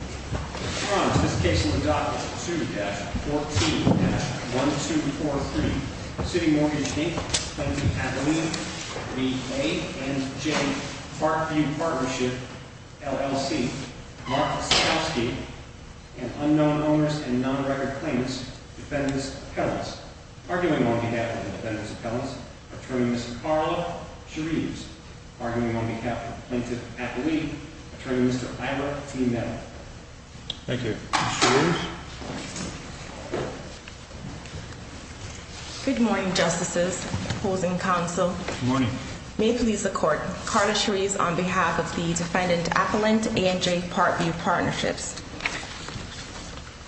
On to this case in the docket, 2-14-1243, CitiMortgage, Inc., Plaintiff, Appellee, v. A&J Parkview Partnership, LLC, Mark Stavsky, and unknown owners and non-recorded claimants, Defendants' Appellants. Arguing on behalf of the Defendants' Appellants, Attorney, Mr. Carlo Chereves. Arguing on behalf of the Plaintiffs' Appellees, Attorney, Mr. Ira T. Meadow. Thank you. Ms. Chereves? Good morning, Justices, Opposing Counsel. Good morning. May it please the Court, Carlo Chereves on behalf of the Defendants' Appellants, A&J Parkview Partnerships.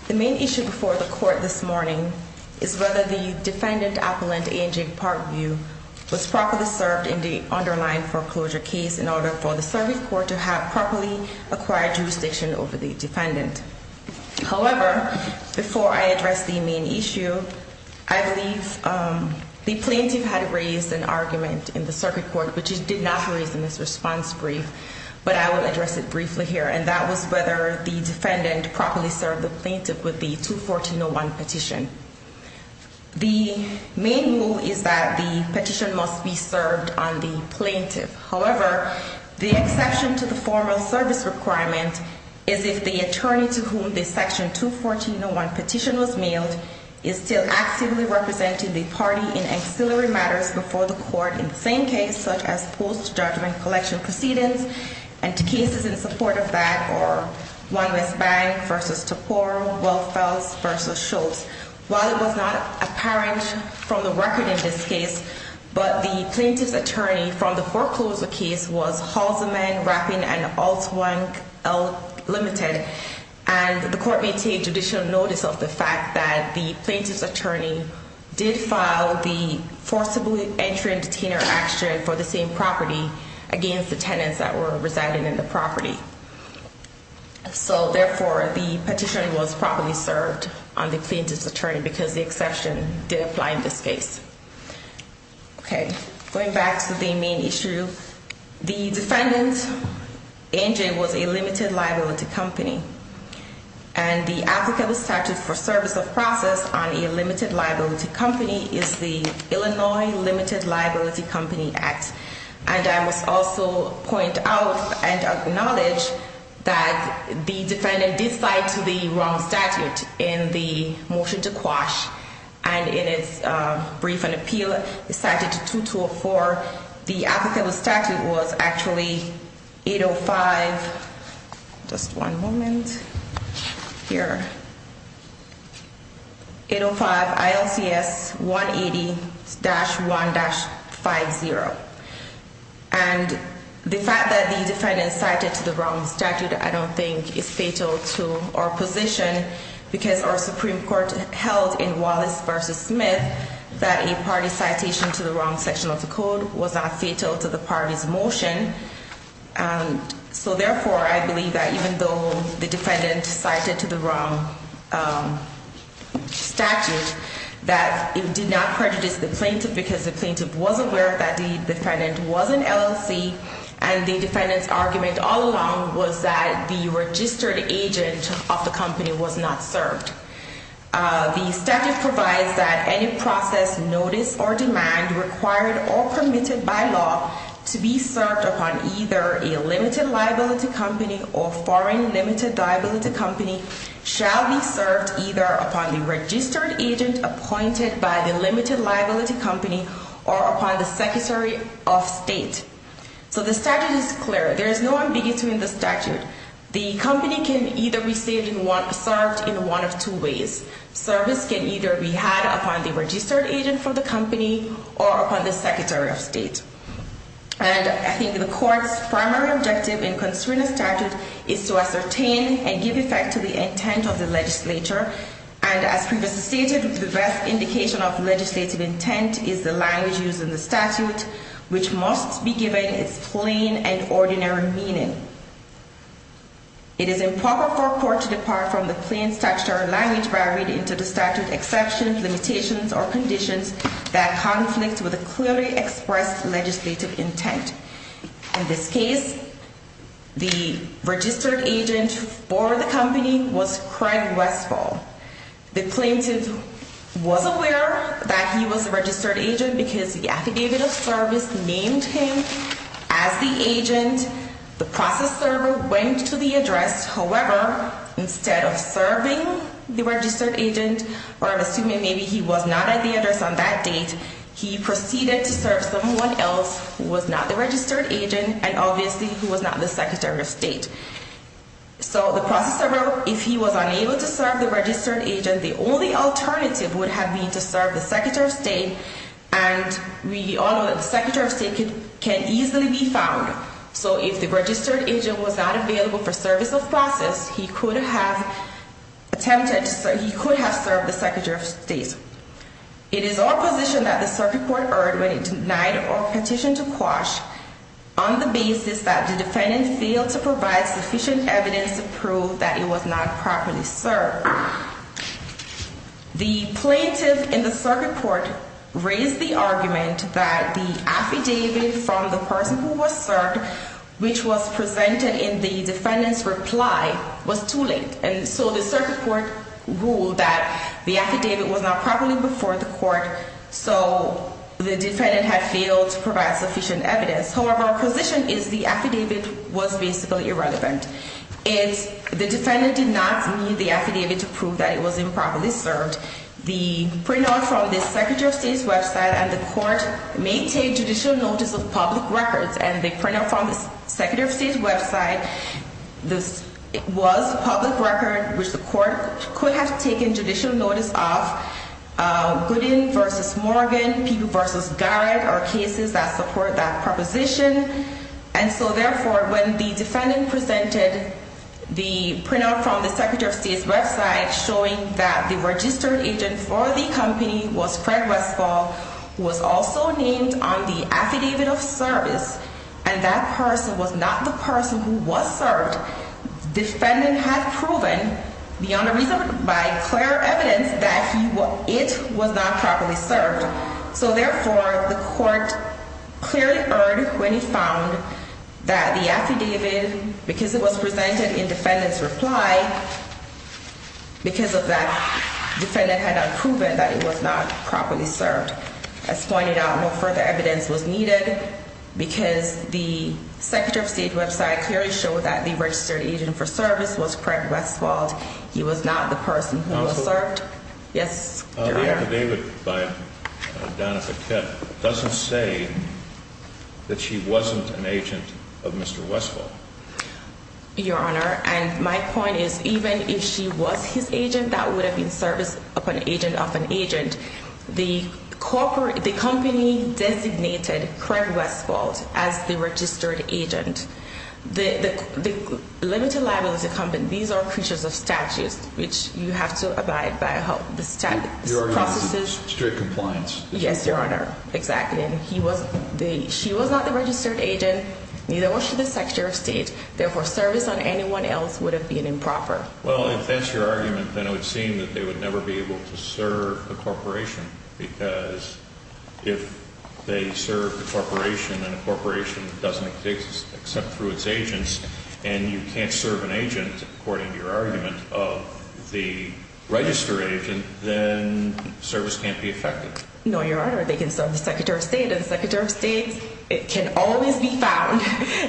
The main issue before the Court this morning is whether the Defendant Appellant, A&J Parkview, was properly served in the underlying foreclosure case in order for the Circuit Court to have properly acquired jurisdiction over the Defendant. However, before I address the main issue, I believe the Plaintiff had raised an argument in the Circuit Court, which he did not raise in this response brief, but I will address it briefly here, and that was whether the Defendant properly served the Plaintiff with the 214.01 petition. The main rule is that the petition must be served on the Plaintiff. However, the exception to the formal service requirement is if the attorney to whom the section 214.01 petition was mailed is still actively representing the party in ancillary matters before the Court, in the same case, such as post-judgment collection proceedings, and cases in support of that are 1 West Bank v. Tapor, Welfels v. Schultz. While it was not apparent from the record in this case, but the Plaintiff's attorney from the foreclosure case was Halseman, Rappin, and Altwang, L, Ltd. And the Court may take judicial notice of the fact that the Plaintiff's attorney did file the forcibly entry and detainer action for the same property against the tenants that were residing in the property. So, therefore, the petition was properly served on the Plaintiff's attorney because the exception did apply in this case. Okay, going back to the main issue, the defendant, Angel, was a limited liability company. And the applicable statute for service of process on a limited liability company is the Illinois Limited Liability Company Act. And I must also point out and acknowledge that the defendant did cite the wrong statute in the motion to quash. And in its brief and appeal, cited 2204, the applicable statute was actually 805, just one moment, here, 805 ILCS 180-1-50. And the fact that the defendant cited the wrong statute I don't think is fatal to our position because our Supreme Court held in Wallace v. Smith that a party citation to the wrong section of the code was not fatal to the party's motion. So, therefore, I believe that even though the defendant cited to the wrong statute, that it did not prejudice the Plaintiff because the Plaintiff was aware that the defendant was an LLC. And the defendant's argument all along was that the registered agent of the company was not served. The statute provides that any process, notice, or demand required or permitted by law to be served upon either a limited liability company or foreign limited liability company shall be served either upon the registered agent appointed by the limited liability company or upon the Secretary of State. So the statute is clear. There is no ambiguity in the statute. The company can either be served in one of two ways. Service can either be had upon the registered agent from the company or upon the Secretary of State. And I think the court's primary objective in concerning the statute is to ascertain and give effect to the intent of the legislature. And as previously stated, the best indication of legislative intent is the language used in the statute, which must be given its plain and ordinary meaning. It is improper for a court to depart from the plain statutory language by reading into the statute exceptions, limitations, or conditions that conflict with a clearly expressed legislative intent. In this case, the registered agent for the company was Craig Westfall. The plaintiff was aware that he was a registered agent because the affidavit of service named him as the agent. The process server went to the address. However, instead of serving the registered agent or assuming maybe he was not at the address on that date, he proceeded to serve someone else who was not the registered agent and obviously who was not the Secretary of State. So the process server, if he was unable to serve the registered agent, the only alternative would have been to serve the Secretary of State. And we all know that the Secretary of State can easily be found. So if the registered agent was not available for service of process, he could have served the Secretary of State. It is our position that the circuit court erred when it denied or petitioned to quash on the basis that the defendant failed to provide sufficient evidence to prove that he was not properly served. However, the plaintiff in the circuit court raised the argument that the affidavit from the person who was served, which was presented in the defendant's reply, was too late. And so the circuit court ruled that the affidavit was not properly before the court, so the defendant had failed to provide sufficient evidence. However, our position is the affidavit was basically irrelevant. The defendant did not need the affidavit to prove that he was improperly served. The printout from the Secretary of State's website and the court may take judicial notice of public records and the printout from the Secretary of State's website was a public record which the court could have taken judicial notice of. Gooding v. Morgan, Peeble v. Garrett are cases that support that proposition. And so, therefore, when the defendant presented the printout from the Secretary of State's website showing that the registered agent for the company was Craig Westfall, who was also named on the affidavit of service, and that person was not the person who was served, the defendant had proven beyond a reasonable by clear evidence that it was not properly served. So, therefore, the court clearly heard when he found that the affidavit, because it was presented in defendant's reply, because of that, the defendant had not proven that it was not properly served. As pointed out, no further evidence was needed because the Secretary of State's website clearly showed that the registered agent for service was Craig Westfall. He was not the person who was served. The affidavit by Donna Paquette doesn't say that she wasn't an agent of Mr. Westfall. Your Honor, and my point is, even if she was his agent, that would have been service of an agent of an agent. The company designated Craig Westfall as the registered agent. The limited liability company, these are creatures of statute, which you have to abide by the statute. Your Honor, strict compliance. Yes, Your Honor, exactly. She was not the registered agent, neither was she the Secretary of State. Therefore, service on anyone else would have been improper. Well, if that's your argument, then it would seem that they would never be able to serve a corporation, because if they serve a corporation and a corporation doesn't exist except through its agents, and you can't serve an agent, according to your argument, of the registered agent, then service can't be effective. No, Your Honor, they can serve the Secretary of State, and the Secretary of State can always be found,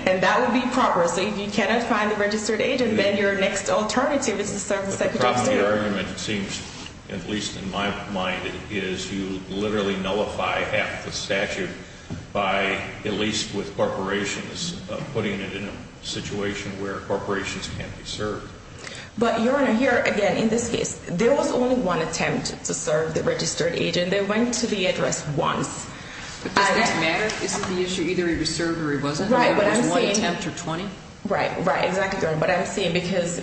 and that would be proper. So if you cannot find the registered agent, then your next alternative is to serve the Secretary of State. The problem with your argument seems, at least in my mind, is you literally nullify half the statute by, at least with corporations, putting it in a situation where corporations can't be served. But, Your Honor, here, again, in this case, there was only one attempt to serve the registered agent. They went to the address once. But does this matter? Isn't the issue either he was served or he wasn't? Right, but I'm saying – There was one attempt or 20? Right, right, exactly, Your Honor. But I'm saying, because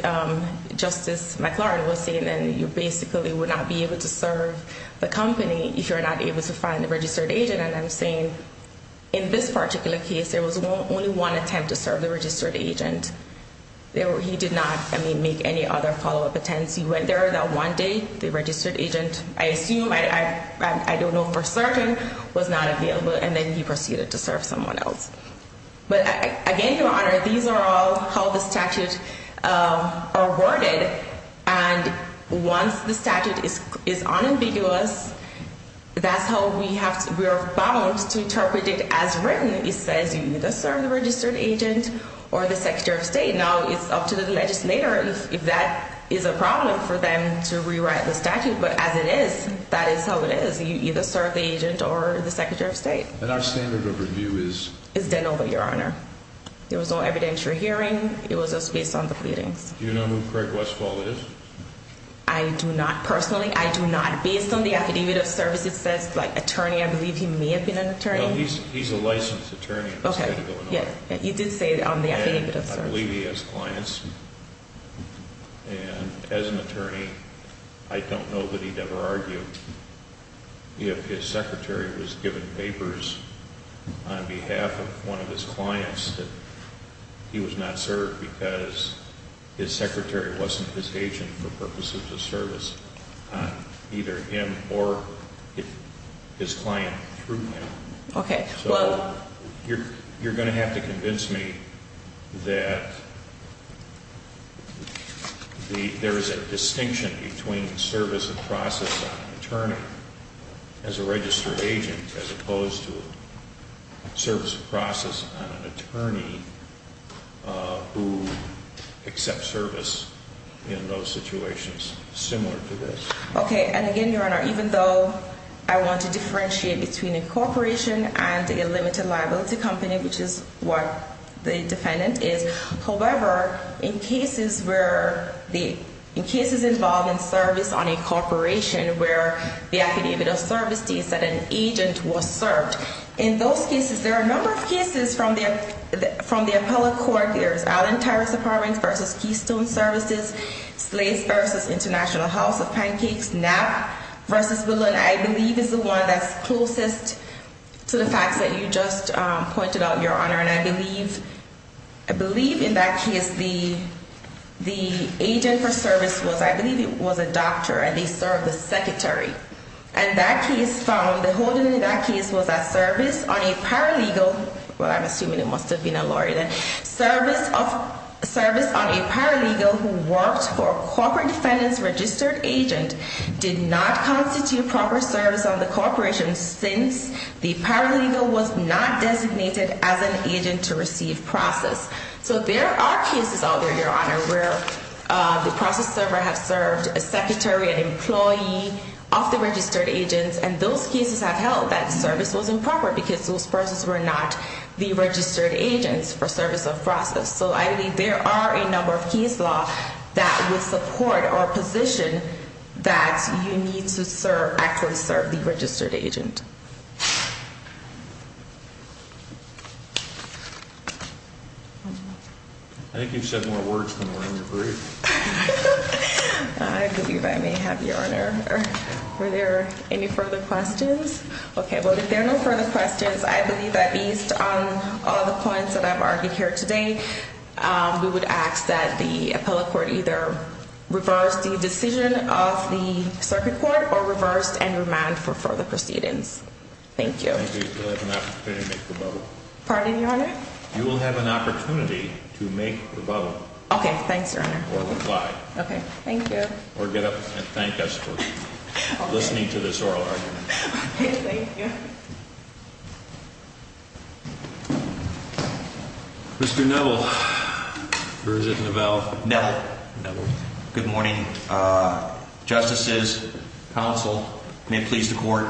Justice McLaurin was saying then you basically would not be able to serve the company if you're not able to find the registered agent, and I'm saying in this particular case, there was only one attempt to serve the registered agent. He did not, I mean, make any other follow-up attempts. He went there that one day, the registered agent, I assume, I don't know for certain, was not available, and then he proceeded to serve someone else. But, again, Your Honor, these are all how the statutes are worded, and once the statute is unambiguous, that's how we are bound to interpret it as written. It says you either serve the registered agent or the Secretary of State. Now, it's up to the legislator if that is a problem for them to rewrite the statute, but as it is, that is how it is. You either serve the agent or the Secretary of State. And our standard of review is? Is then over, Your Honor. There was no evidentiary hearing. It was just based on the pleadings. Do you know who Craig Westfall is? I do not, personally. I do not. Based on the Affidavit of Service, it says, like, attorney. I believe he may have been an attorney. No, he's a licensed attorney in the state of Illinois. Okay, yeah, you did say it on the Affidavit of Service. I believe he has clients, and as an attorney, I don't know that he'd ever argue if his secretary was given papers on behalf of one of his clients that he was not served because his secretary wasn't his agent for purposes of service on either him or his client through him. So, you're going to have to convince me that there is a distinction between service of process on an attorney as a registered agent as opposed to service of process on an attorney who accepts service in those situations similar to this. Okay, and again, Your Honor, even though I want to differentiate between a corporation and a limited liability company, which is what the defendant is, however, in cases involving service on a corporation where the Affidavit of Service states that an agent was served, in those cases, there are a number of cases from the appellate court. There is Allen Terrace Apartments v. Keystone Services, Slays v. International House of Pancakes, Knapp v. Willow, and I believe it's the one that's closest to the facts that you just pointed out, Your Honor. And I believe in that case, the agent for service was, I believe it was a doctor, and they served the secretary, and that case found, the holding in that case was that service on a paralegal, well, I'm assuming it must have been a lawyer, service on a paralegal who worked for a corporate defendant's registered agent did not constitute proper service on the corporation since the paralegal was not designated as an agent to receive process. So there are cases out there, Your Honor, where the process server has served a secretary, an employee of the registered agent, and those cases have held that service was improper because those persons were not the registered agents for service of process. So I believe there are a number of case law that would support our position that you need to serve, actually serve the registered agent. I think you've said more words than we're going to agree. I believe I may have, Your Honor. Were there any further questions? Okay, well, if there are no further questions, I believe that based on all the points that I've argued here today, we would ask that the appellate court either reverse the decision of the circuit court or reverse and remand for further proceedings. Thank you. Pardon me, Your Honor? You will have an opportunity to make the vote. Okay, thanks, Your Honor. Or reply. Okay, thank you. Or get up and thank us for listening to this oral argument. Okay, thank you. Mr. Neville, or is it Neville? Neville. Neville. Good morning. Justices, counsel, may it please the court.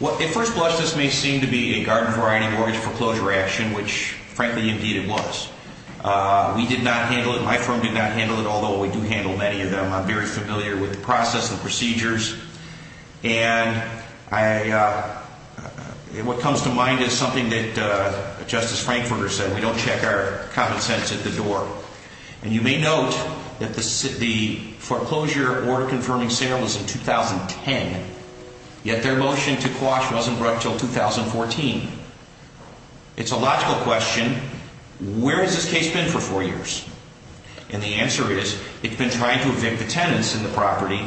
At first blush, this may seem to be a garden-variety mortgage foreclosure action, which, frankly, indeed it was. We did not handle it. My firm did not handle it, although we do handle many of them. I'm very familiar with the process and procedures. And what comes to mind is something that Justice Frankfurter said. We don't check our common sense at the door. And you may note that the foreclosure order confirming sale was in 2010, yet their motion to quash wasn't brought until 2014. It's a logical question. Where has this case been for four years? And the answer is it's been trying to evict the tenants in the property,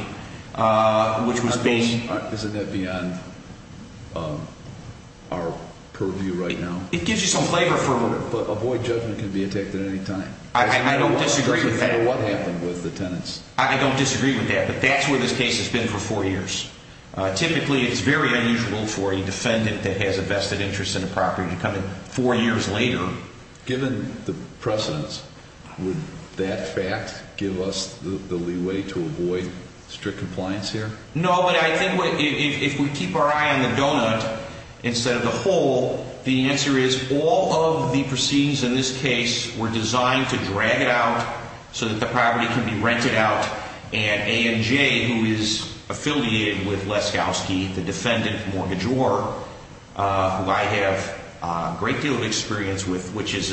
which was being ---- Isn't that beyond our purview right now? It gives you some flavor for ---- But a void judgment can be attacked at any time. I don't disagree with that. It doesn't matter what happened with the tenants. I don't disagree with that. But that's where this case has been for four years. Typically, it's very unusual for a defendant that has a vested interest in a property to come in four years later. Given the precedents, would that fact give us the leeway to avoid strict compliance here? No, but I think if we keep our eye on the donut instead of the hole, the answer is all of the proceedings in this case were designed to drag it out so that the property can be rented out. And ANJ, who is affiliated with Leskowski, the defendant mortgagor, who I have a great deal of experience with, which is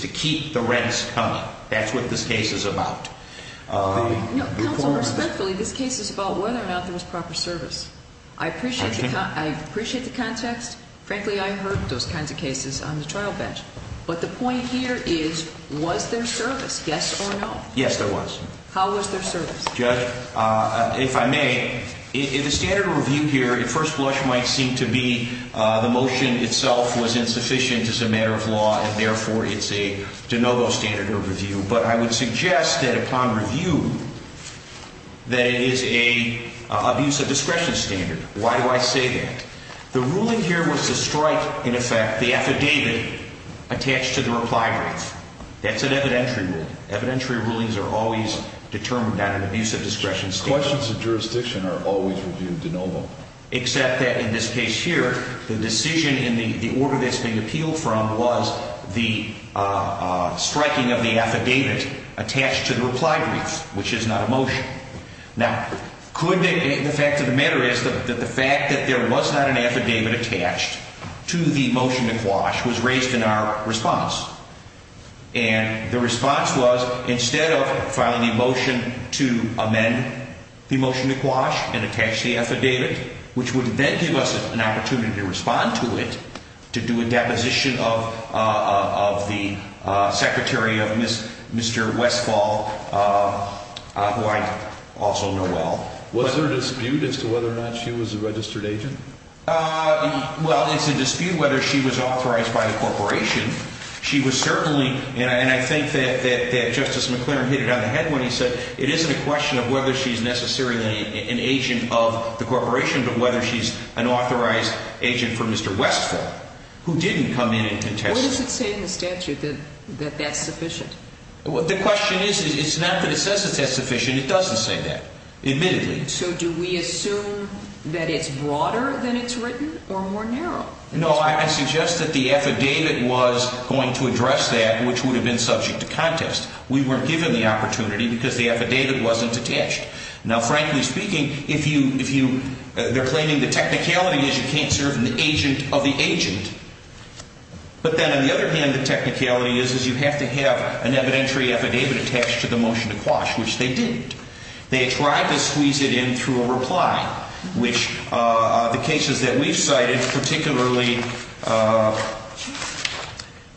to keep the rents coming. That's what this case is about. Counsel, respectfully, this case is about whether or not there was proper service. I appreciate the context. Frankly, I heard those kinds of cases on the trial bench. But the point here is was there service, yes or no? Yes, there was. How was there service? Judge, if I may, the standard of review here at first blush might seem to be the motion itself was insufficient as a matter of law, and therefore it's a de novo standard of review. But I would suggest that upon review that it is an abuse of discretion standard. Why do I say that? The ruling here was to strike, in effect, the affidavit attached to the reply brief. That's an evidentiary rule. Evidentiary rulings are always determined on an abuse of discretion standard. Questions of jurisdiction are always reviewed de novo. Except that in this case here, the decision in the order that's being appealed from was the striking of the affidavit attached to the reply brief, which is not a motion. Now, could the fact of the matter is that the fact that there was not an affidavit attached to the motion to quash was raised in our response. And the response was, instead of filing a motion to amend the motion to quash and attach the affidavit, which would then give us an opportunity to respond to it, to do a deposition of the secretary of Mr. Westfall, who I also know well. Was there a dispute as to whether or not she was a registered agent? Well, it's a dispute whether she was authorized by the corporation. She was certainly, and I think that Justice McClaren hit it on the head when he said, it isn't a question of whether she's necessarily an agent of the corporation, but whether she's an authorized agent for Mr. Westfall, who didn't come in and testify. What does it say in the statute that that's sufficient? The question is, it's not that it says it's that sufficient. It doesn't say that, admittedly. So do we assume that it's broader than it's written or more narrow? No, I suggest that the affidavit was going to address that, which would have been subject to contest. We weren't given the opportunity because the affidavit wasn't attached. Now, frankly speaking, if you, if you, they're claiming the technicality is you can't serve an agent of the agent. But then on the other hand, the technicality is, is you have to have an evidentiary affidavit attached to the motion to quash, which they didn't. They tried to squeeze it in through a reply, which the cases that we've cited, particularly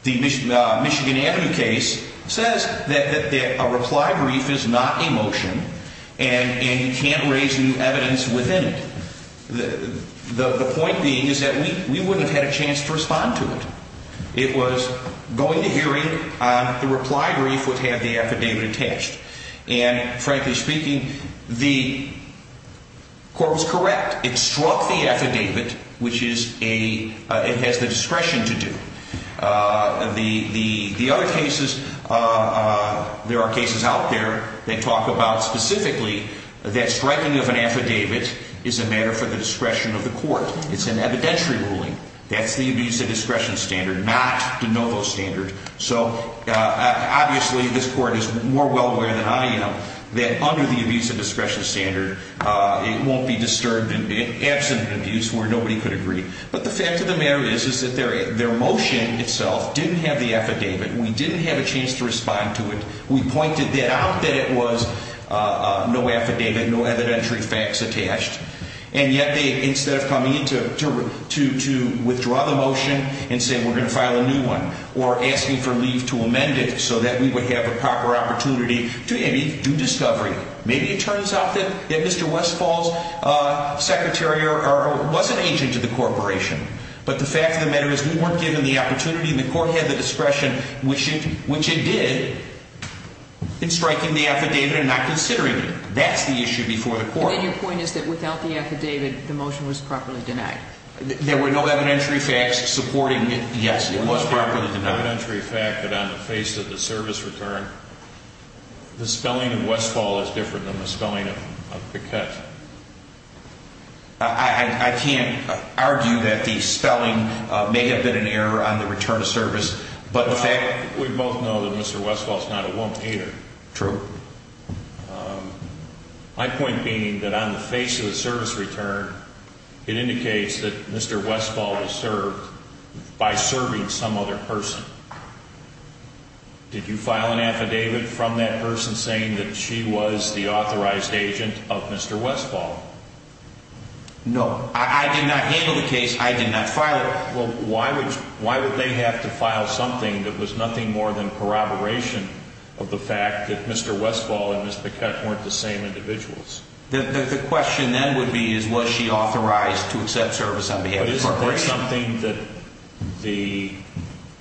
the Michigan Avenue case, says that a reply brief is not a motion and you can't raise new evidence within it. The point being is that we wouldn't have had a chance to respond to it. It was going to hearing. The reply brief would have the affidavit attached. And frankly speaking, the court was correct. It struck the affidavit, which is a, it has the discretion to do. The, the, the other cases, there are cases out there that talk about specifically that striking of an affidavit is a matter for the discretion of the court. It's an evidentiary ruling. That's the abuse of discretion standard, not the NOVO standard. So obviously this court is more well aware than I am that under the abuse of discretion standard, it won't be disturbed in, in absent of abuse where nobody could agree. But the fact of the matter is, is that their, their motion itself didn't have the affidavit. We didn't have a chance to respond to it. We pointed that out that it was no affidavit, no evidentiary facts attached. And yet they, instead of coming in to, to, to, to withdraw the motion and say we're going to file a new one or asking for leave to amend it so that we would have a proper opportunity to do discovery. Maybe it turns out that, that Mr. Westfall's secretary or, or was an agent of the corporation. But the fact of the matter is we weren't given the opportunity and the court had the discretion, which it, which it did, in striking the affidavit and not considering it. And your point is that without the affidavit, the motion was properly denied. There were no evidentiary facts supporting it. Yes, it was properly denied. There was no evidentiary fact that on the face of the service return, the spelling of Westfall is different than the spelling of, of Pickett. I, I, I can't argue that the spelling may have been an error on the return of service. But the fact. We both know that Mr. Westfall's not a woman either. True. My point being that on the face of the service return, it indicates that Mr. Westfall was served by serving some other person. Did you file an affidavit from that person saying that she was the authorized agent of Mr. Westfall? No, I did not handle the case. I did not file it. Well, why would, why would they have to file something that was nothing more than corroboration of the fact that Mr. Westfall and Ms. Pickett weren't the same individuals? The, the question then would be is was she authorized to accept service on behalf of the corporation? But isn't there something that the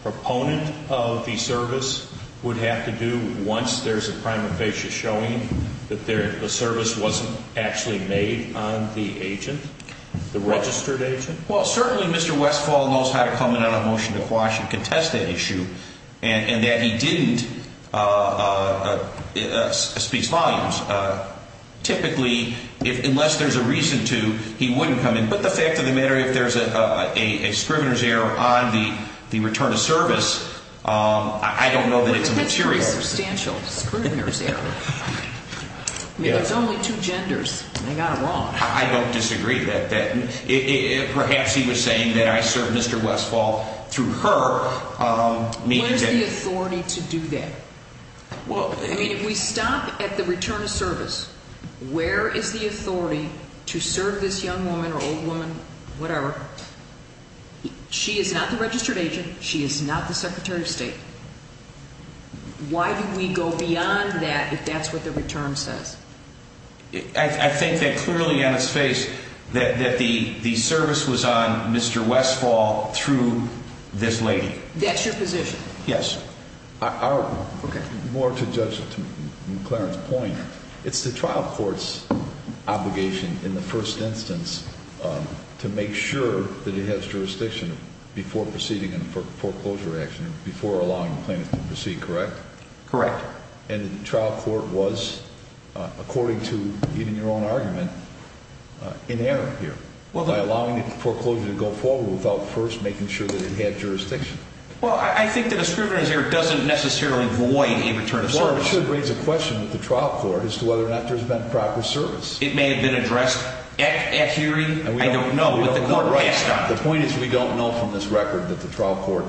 proponent of the service would have to do once there's a prima facie showing that there, the service wasn't actually made on the agent, the registered agent? Well, certainly Mr. Westfall knows how to come in on a motion to quash and contest that issue and, and that he didn't speak volumes. Typically, if, unless there's a reason to, he wouldn't come in. But the fact of the matter, if there's a, a, a scrivener's error on the, the return of service, I don't know that it's a material. Well, that's a pretty substantial scrivener's error. I mean, there's only two genders and they got it wrong. I don't disagree with that. It, it, perhaps he was saying that I served Mr. Westfall through her meeting. Where's the authority to do that? Well, I mean, if we stop at the return of service, where is the authority to serve this young woman or old woman, whatever? She is not the registered agent. She is not the secretary of state. Why do we go beyond that if that's what the return says? I, I think that clearly on its face that, that the, the service was on Mr. Westfall through this lady. That's your position? Yes. I, I, okay. More to Judge McLaren's point, it's the trial court's obligation in the first instance to make sure that it has jurisdiction before proceeding in foreclosure action, before allowing plaintiffs to proceed, correct? Correct. And the trial court was, according to even your own argument, in error here by allowing the foreclosure to go forward without first making sure that it had jurisdiction. Well, I, I think the discrimination here doesn't necessarily void a return of service. Well, it should raise a question with the trial court as to whether or not there's been proper service. It may have been addressed at, at hearing. And we don't, we don't know. I don't know what the court passed on. The point is we don't know from this record that the trial court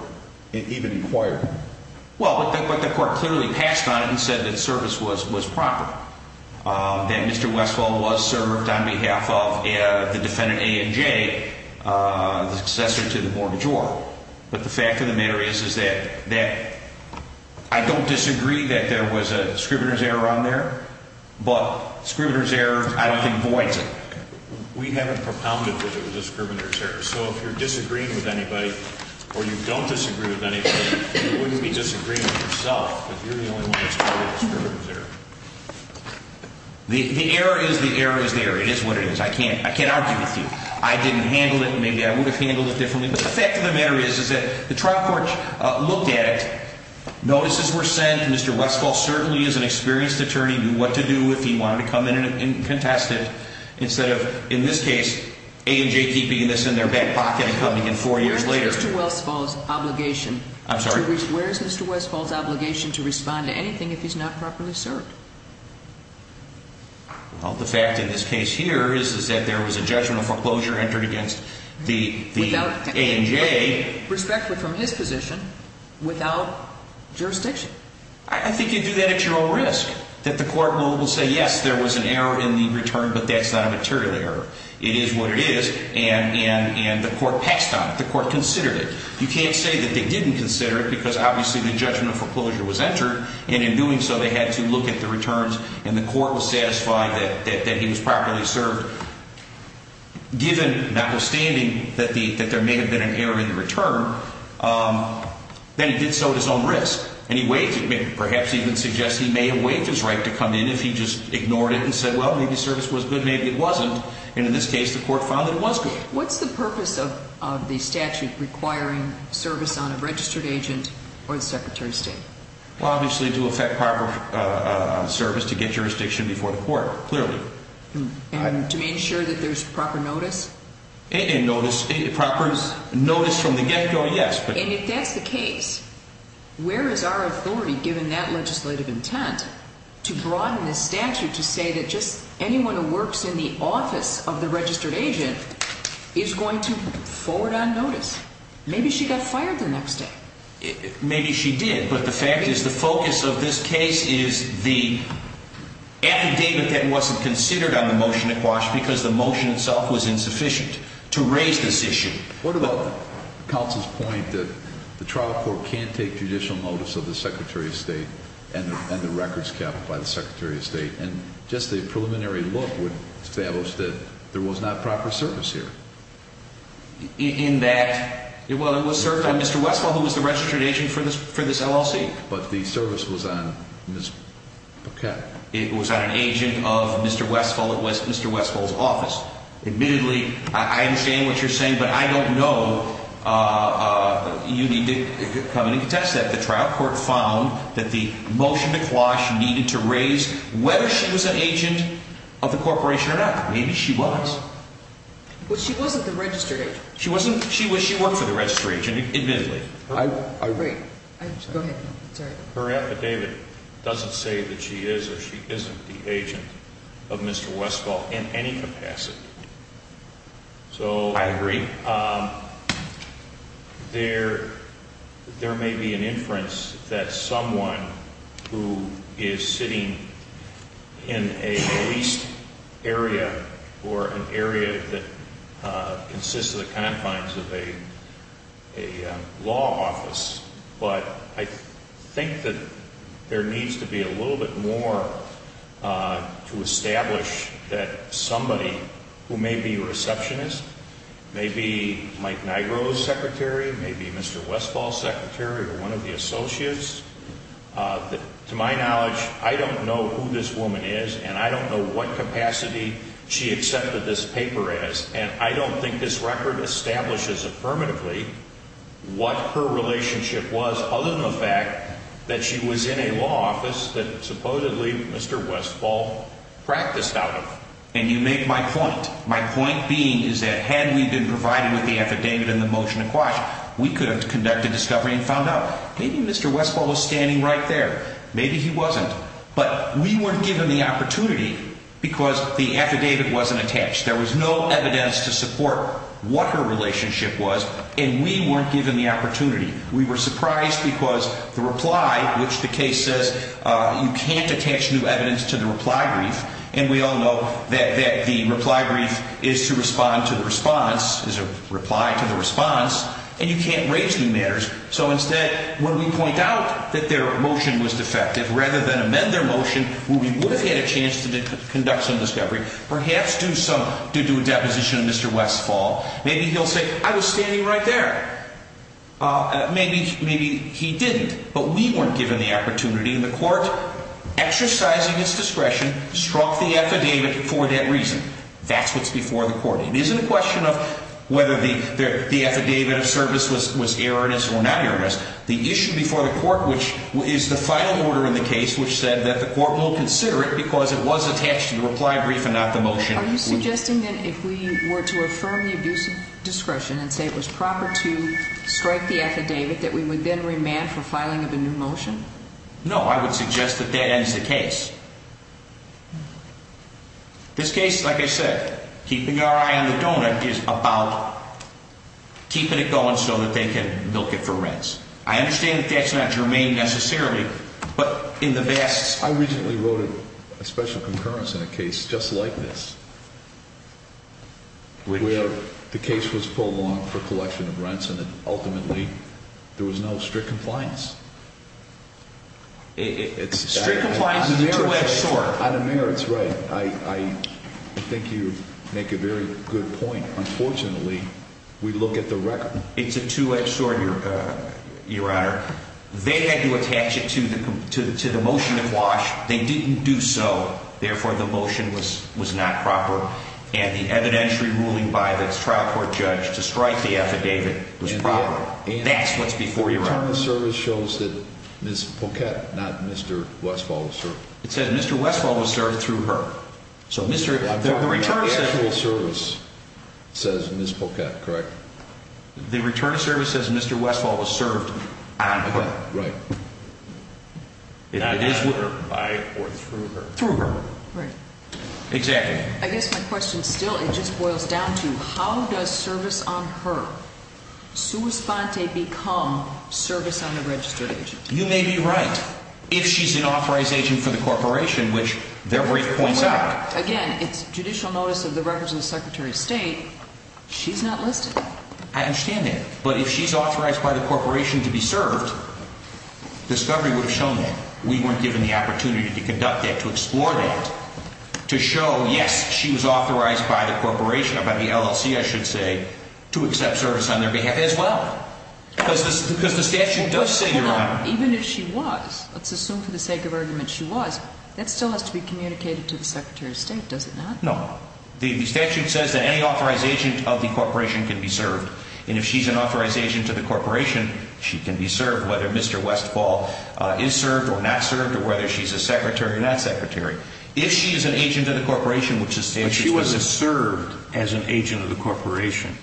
even inquired. Well, but the, but the court clearly passed on it and said that service was, was proper. That Mr. Westfall was served on behalf of the defendant A&J, the successor to the mortgagor. But the fact of the matter is, is that, that I don't disagree that there was a scrivener's error on there, but scrivener's error I don't think voids it. We haven't propounded that it was a scrivener's error. So if you're disagreeing with anybody or you don't disagree with anybody, you wouldn't be disagreeing with yourself if you're the only one that's probably a scrivener's error. The, the error is the error is the error. It is what it is. I can't, I can't argue with you. I didn't handle it and maybe I would have handled it differently. But the fact of the matter is, is that the trial court looked at it. Notices were sent. Mr. Westfall certainly is an experienced attorney, knew what to do if he wanted to come in and contest it. Instead of, in this case, A&J keeping this in their back pocket and coming in four years later. Where is Mr. Westfall's obligation? I'm sorry? Where is Mr. Westfall's obligation to respond to anything if he's not properly served? Well, the fact in this case here is, is that there was a judgment of foreclosure entered against the, the A&J. Respectfully from his position, without jurisdiction. I, I think you do that at your own risk. That the court will say, yes, there was an error in the return, but that's not a material error. It is what it is. And, and, and the court passed on it. The court considered it. You can't say that they didn't consider it because obviously the judgment of foreclosure was entered. And in doing so, they had to look at the returns. And the court was satisfied that, that, that he was properly served. Given, notwithstanding that the, that there may have been an error in the return. Then he did so at his own risk. And he waived it, perhaps even suggest he may have waived his right to come in if he just ignored it and said, well, maybe service was good, maybe it wasn't. And in this case, the court found that it was good. What's the purpose of, of the statute requiring service on a registered agent or the Secretary of State? Well, obviously to effect proper service to get jurisdiction before the court, clearly. And to make sure that there's proper notice? And notice, proper notice from the get-go, yes. And if that's the case, where is our authority, given that legislative intent, to broaden the statute to say that just anyone who works in the office of the registered agent is going to forward on notice? Maybe she got fired the next day. Maybe she did. But the fact is the focus of this case is the affidavit that wasn't considered on the motion to quash because the motion itself was insufficient to raise this issue. What about counsel's point that the trial court can't take judicial notice of the Secretary of State and the records kept by the Secretary of State? And just a preliminary look would establish that there was not proper service here. In that, well, it was served on Mr. Westphal, who was the registered agent for this LLC. But the service was on Ms. Paquette. It was on an agent of Mr. Westphal at Mr. Westphal's office. Admittedly, I understand what you're saying, but I don't know. You need to come in and contest that. The trial court found that the motion to quash needed to raise whether she was an agent of the corporation or not. Maybe she was. But she wasn't the registered agent. She wasn't. She worked for the registered agent, admittedly. I agree. Go ahead. Sorry. Her affidavit doesn't say that she is or she isn't the agent of Mr. Westphal in any capacity. I agree. There may be an inference that someone who is sitting in a police area or an area that consists of the confines of a law office, but I think that there needs to be a little bit more to establish that somebody who may be a receptionist, may be Mike Nigro's secretary, may be Mr. Westphal's secretary or one of the associates. To my knowledge, I don't know who this woman is, and I don't know what capacity she accepted this paper as. And I don't think this record establishes affirmatively what her relationship was, other than the fact that she was in a law office that supposedly Mr. Westphal practiced out of. And you make my point. My point being is that had we been provided with the affidavit and the motion to quash, we could have conducted discovery and found out. Maybe Mr. Westphal was standing right there. Maybe he wasn't. But we weren't given the opportunity because the affidavit wasn't attached. There was no evidence to support what her relationship was, and we weren't given the opportunity. We were surprised because the reply, which the case says you can't attach new evidence to the reply brief, and we all know that the reply brief is to respond to the response, is a reply to the response, and you can't raise new matters. So instead, when we point out that their motion was defective, rather than amend their motion, where we would have had a chance to conduct some discovery, perhaps due to a deposition of Mr. Westphal, maybe he'll say, I was standing right there. Maybe he didn't, but we weren't given the opportunity, and the court, exercising its discretion, struck the affidavit for that reason. That's what's before the court. It isn't a question of whether the affidavit of service was erroneous or not erroneous. The issue before the court, which is the final order in the case, which said that the court will consider it because it was attached to the reply brief and not the motion. Are you suggesting that if we were to affirm the abuse of discretion and say it was proper to strike the affidavit, that we would then remand for filing of a new motion? No, I would suggest that that ends the case. This case, like I said, keeping our eye on the doughnut is about keeping it going so that they can milk it for rents. I understand that that's not germane necessarily, but in the vast... I recently wrote a special concurrence in a case just like this, where the case was pulled along for collection of rents and ultimately there was no strict compliance. Strict compliance is a two-edged sword. Madam Mayor, it's right. I think you make a very good point. Unfortunately, we look at the record. It's a two-edged sword, Your Honor. They had to attach it to the motion to quash. They didn't do so. Therefore, the motion was not proper. And the evidentiary ruling by the trial court judge to strike the affidavit was proper. That's what's before your honor. The return of the service shows that Ms. Poquette, not Mr. Westphal, was served. It says Mr. Westphal was served through her. The return of sexual service says Ms. Poquette, correct? The return of service says Mr. Westphal was served on her. Right. Not by or through her. Through her. Right. Exactly. I guess my question still, it just boils down to, how does service on her, sua sponte, become service on the registered agent? You may be right. If she's an authorized agent for the corporation, which their brief points out. Again, it's judicial notice of the records of the Secretary of State. She's not listed. I understand that. But if she's authorized by the corporation to be served, discovery would have shown that. We weren't given the opportunity to conduct that, to explore that, to show, yes, she was authorized by the corporation, by the LLC, I should say, to accept service on their behalf as well. Because the statute does say, Your Honor. Hold on. Even if she was, let's assume for the sake of argument she was, that still has to be communicated to the Secretary of State, does it not? No. The statute says that any authorized agent of the corporation can be served. And if she's an authorized agent of the corporation, she can be served, whether Mr. Westphal is served or not served, or whether she's a secretary or not secretary. If she is an agent of the corporation, which the statute says. But she wasn't served as an agent of the corporation.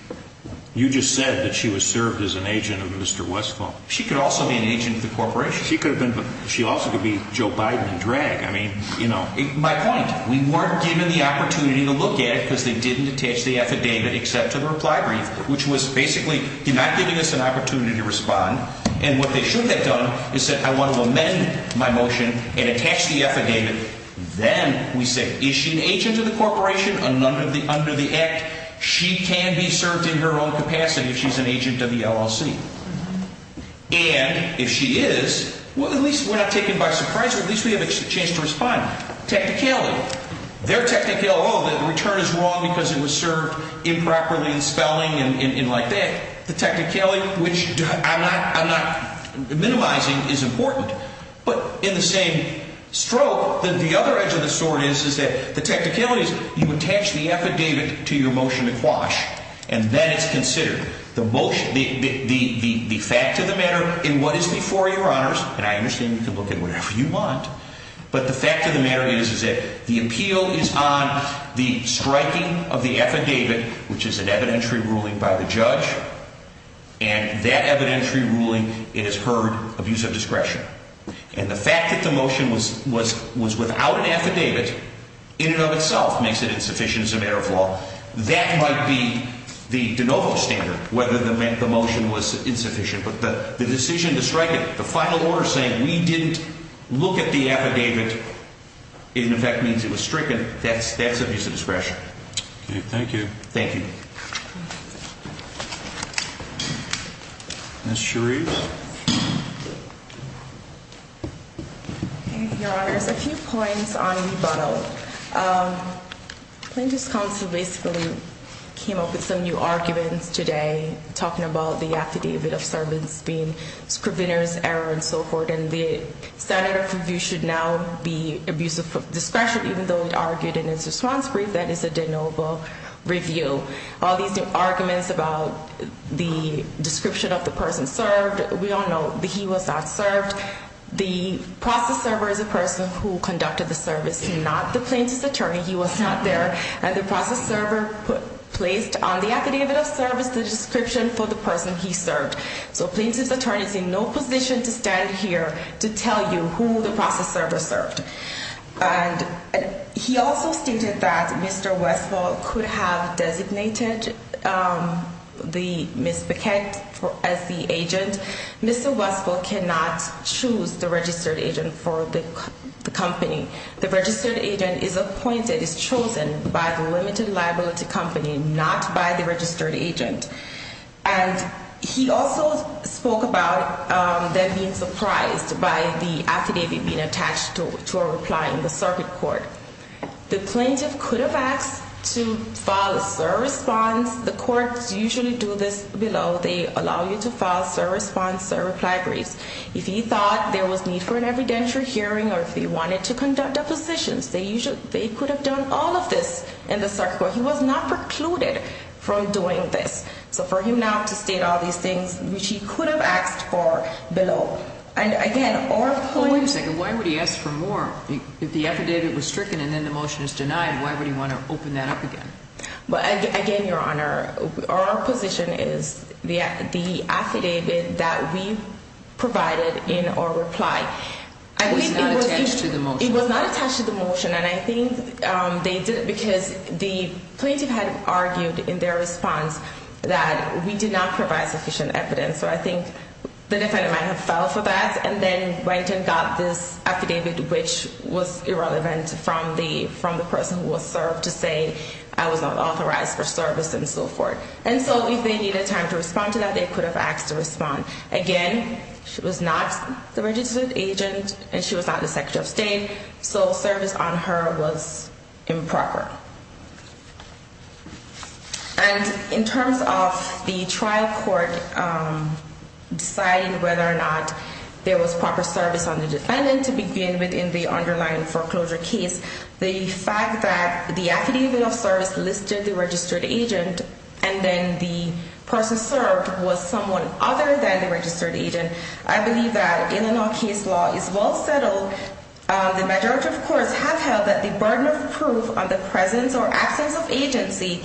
You just said that she was served as an agent of Mr. Westphal. She could also be an agent of the corporation. She could have been, but she also could be Joe Biden in drag. I mean, you know. My point, we weren't given the opportunity to look at it because they didn't attach the affidavit except to the reply brief, which was basically not giving us an opportunity to respond. And what they should have done is said, I want to amend my motion and attach the affidavit. Then we say, is she an agent of the corporation? Under the act, she can be served in her own capacity if she's an agent of the LLC. And if she is, at least we're not taken by surprise, or at least we have a chance to respond. Technicality. Their technicality, oh, the return is wrong because it was served improperly in spelling and like that. The technicality, which I'm not minimizing, is important. But in the same stroke, the other edge of the sword is that the technicality is you attach the affidavit to your motion to quash. And then it's considered. The fact of the matter in what is before your honors, and I understand you can look at whatever you want, but the fact of the matter is that the appeal is on the striking of the affidavit, which is an evidentiary ruling by the judge. And that evidentiary ruling, it is heard abuse of discretion. And the fact that the motion was without an affidavit in and of itself makes it insufficient as a matter of law. That might be the de novo standard, whether the motion was insufficient. But the decision to strike it, the final order saying we didn't look at the affidavit in effect means it was stricken. That's that's abuse of discretion. Thank you. Thank you. Ms. Sharif. Your honors, a few points on rebuttal. Plaintiff's counsel basically came up with some new arguments today talking about the affidavit of servants being scriveners, error, and so forth. And the standard of review should now be abuse of discretion, even though it argued in its response brief that it's a de novo review. All these new arguments about the description of the person served, we all know that he was not served. The process server is a person who conducted the service, not the plaintiff's attorney. He was not there. And the process server placed on the affidavit of service the description for the person he served. So plaintiff's attorney is in no position to stand here to tell you who the process server served. And he also stated that Mr. Westfall could have designated the Ms. Paquette as the agent. Mr. Westfall cannot choose the registered agent for the company. The registered agent is appointed, is chosen by the limited liability company, not by the registered agent. And he also spoke about them being surprised by the affidavit being attached to a reply in the circuit court. The plaintiff could have asked to file a service bond. The courts usually do this below. They allow you to file service bonds or reply briefs. If he thought there was need for an evidentiary hearing or if he wanted to conduct depositions, they could have done all of this in the circuit court. He was not precluded from doing this. So for him not to state all these things, which he could have asked for below. And, again, our point – Wait a second. Why would he ask for more? If the affidavit was stricken and then the motion is denied, why would he want to open that up again? Again, Your Honor, our position is the affidavit that we provided in our reply. It was not attached to the motion. It was not attached to the motion. And I think they did it because the plaintiff had argued in their response that we did not provide sufficient evidence. So I think the defendant might have filed for that and then went and got this affidavit, which was irrelevant from the person who was served to say I was not authorized for service and so forth. And so if they needed time to respond to that, they could have asked to respond. Again, she was not the registered agent and she was not the Secretary of State, so service on her was improper. And in terms of the trial court deciding whether or not there was proper service on the defendant to begin with in the underlying foreclosure case, the fact that the affidavit of service listed the registered agent and then the person served was someone other than the registered agent, I believe that in and of itself is well settled. So the majority of courts have held that the burden of proof on the presence or absence of agency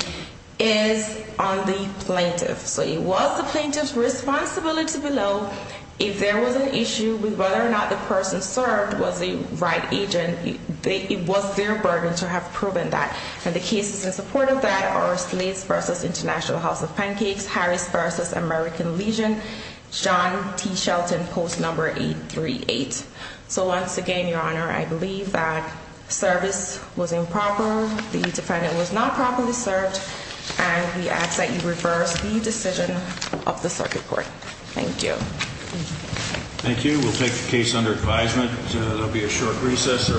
is on the plaintiff. So it was the plaintiff's responsibility to know if there was an issue with whether or not the person served was the right agent. It was their burden to have proven that. And the cases in support of that are Slates v. International House of Pancakes, Harris v. American Legion, John T. Shelton, post number 838. So once again, Your Honor, I believe that service was improper. The defendant was not properly served. And we ask that you reverse the decision of the circuit court. Thank you. Thank you. We'll take the case under advisement. There will be a short recess.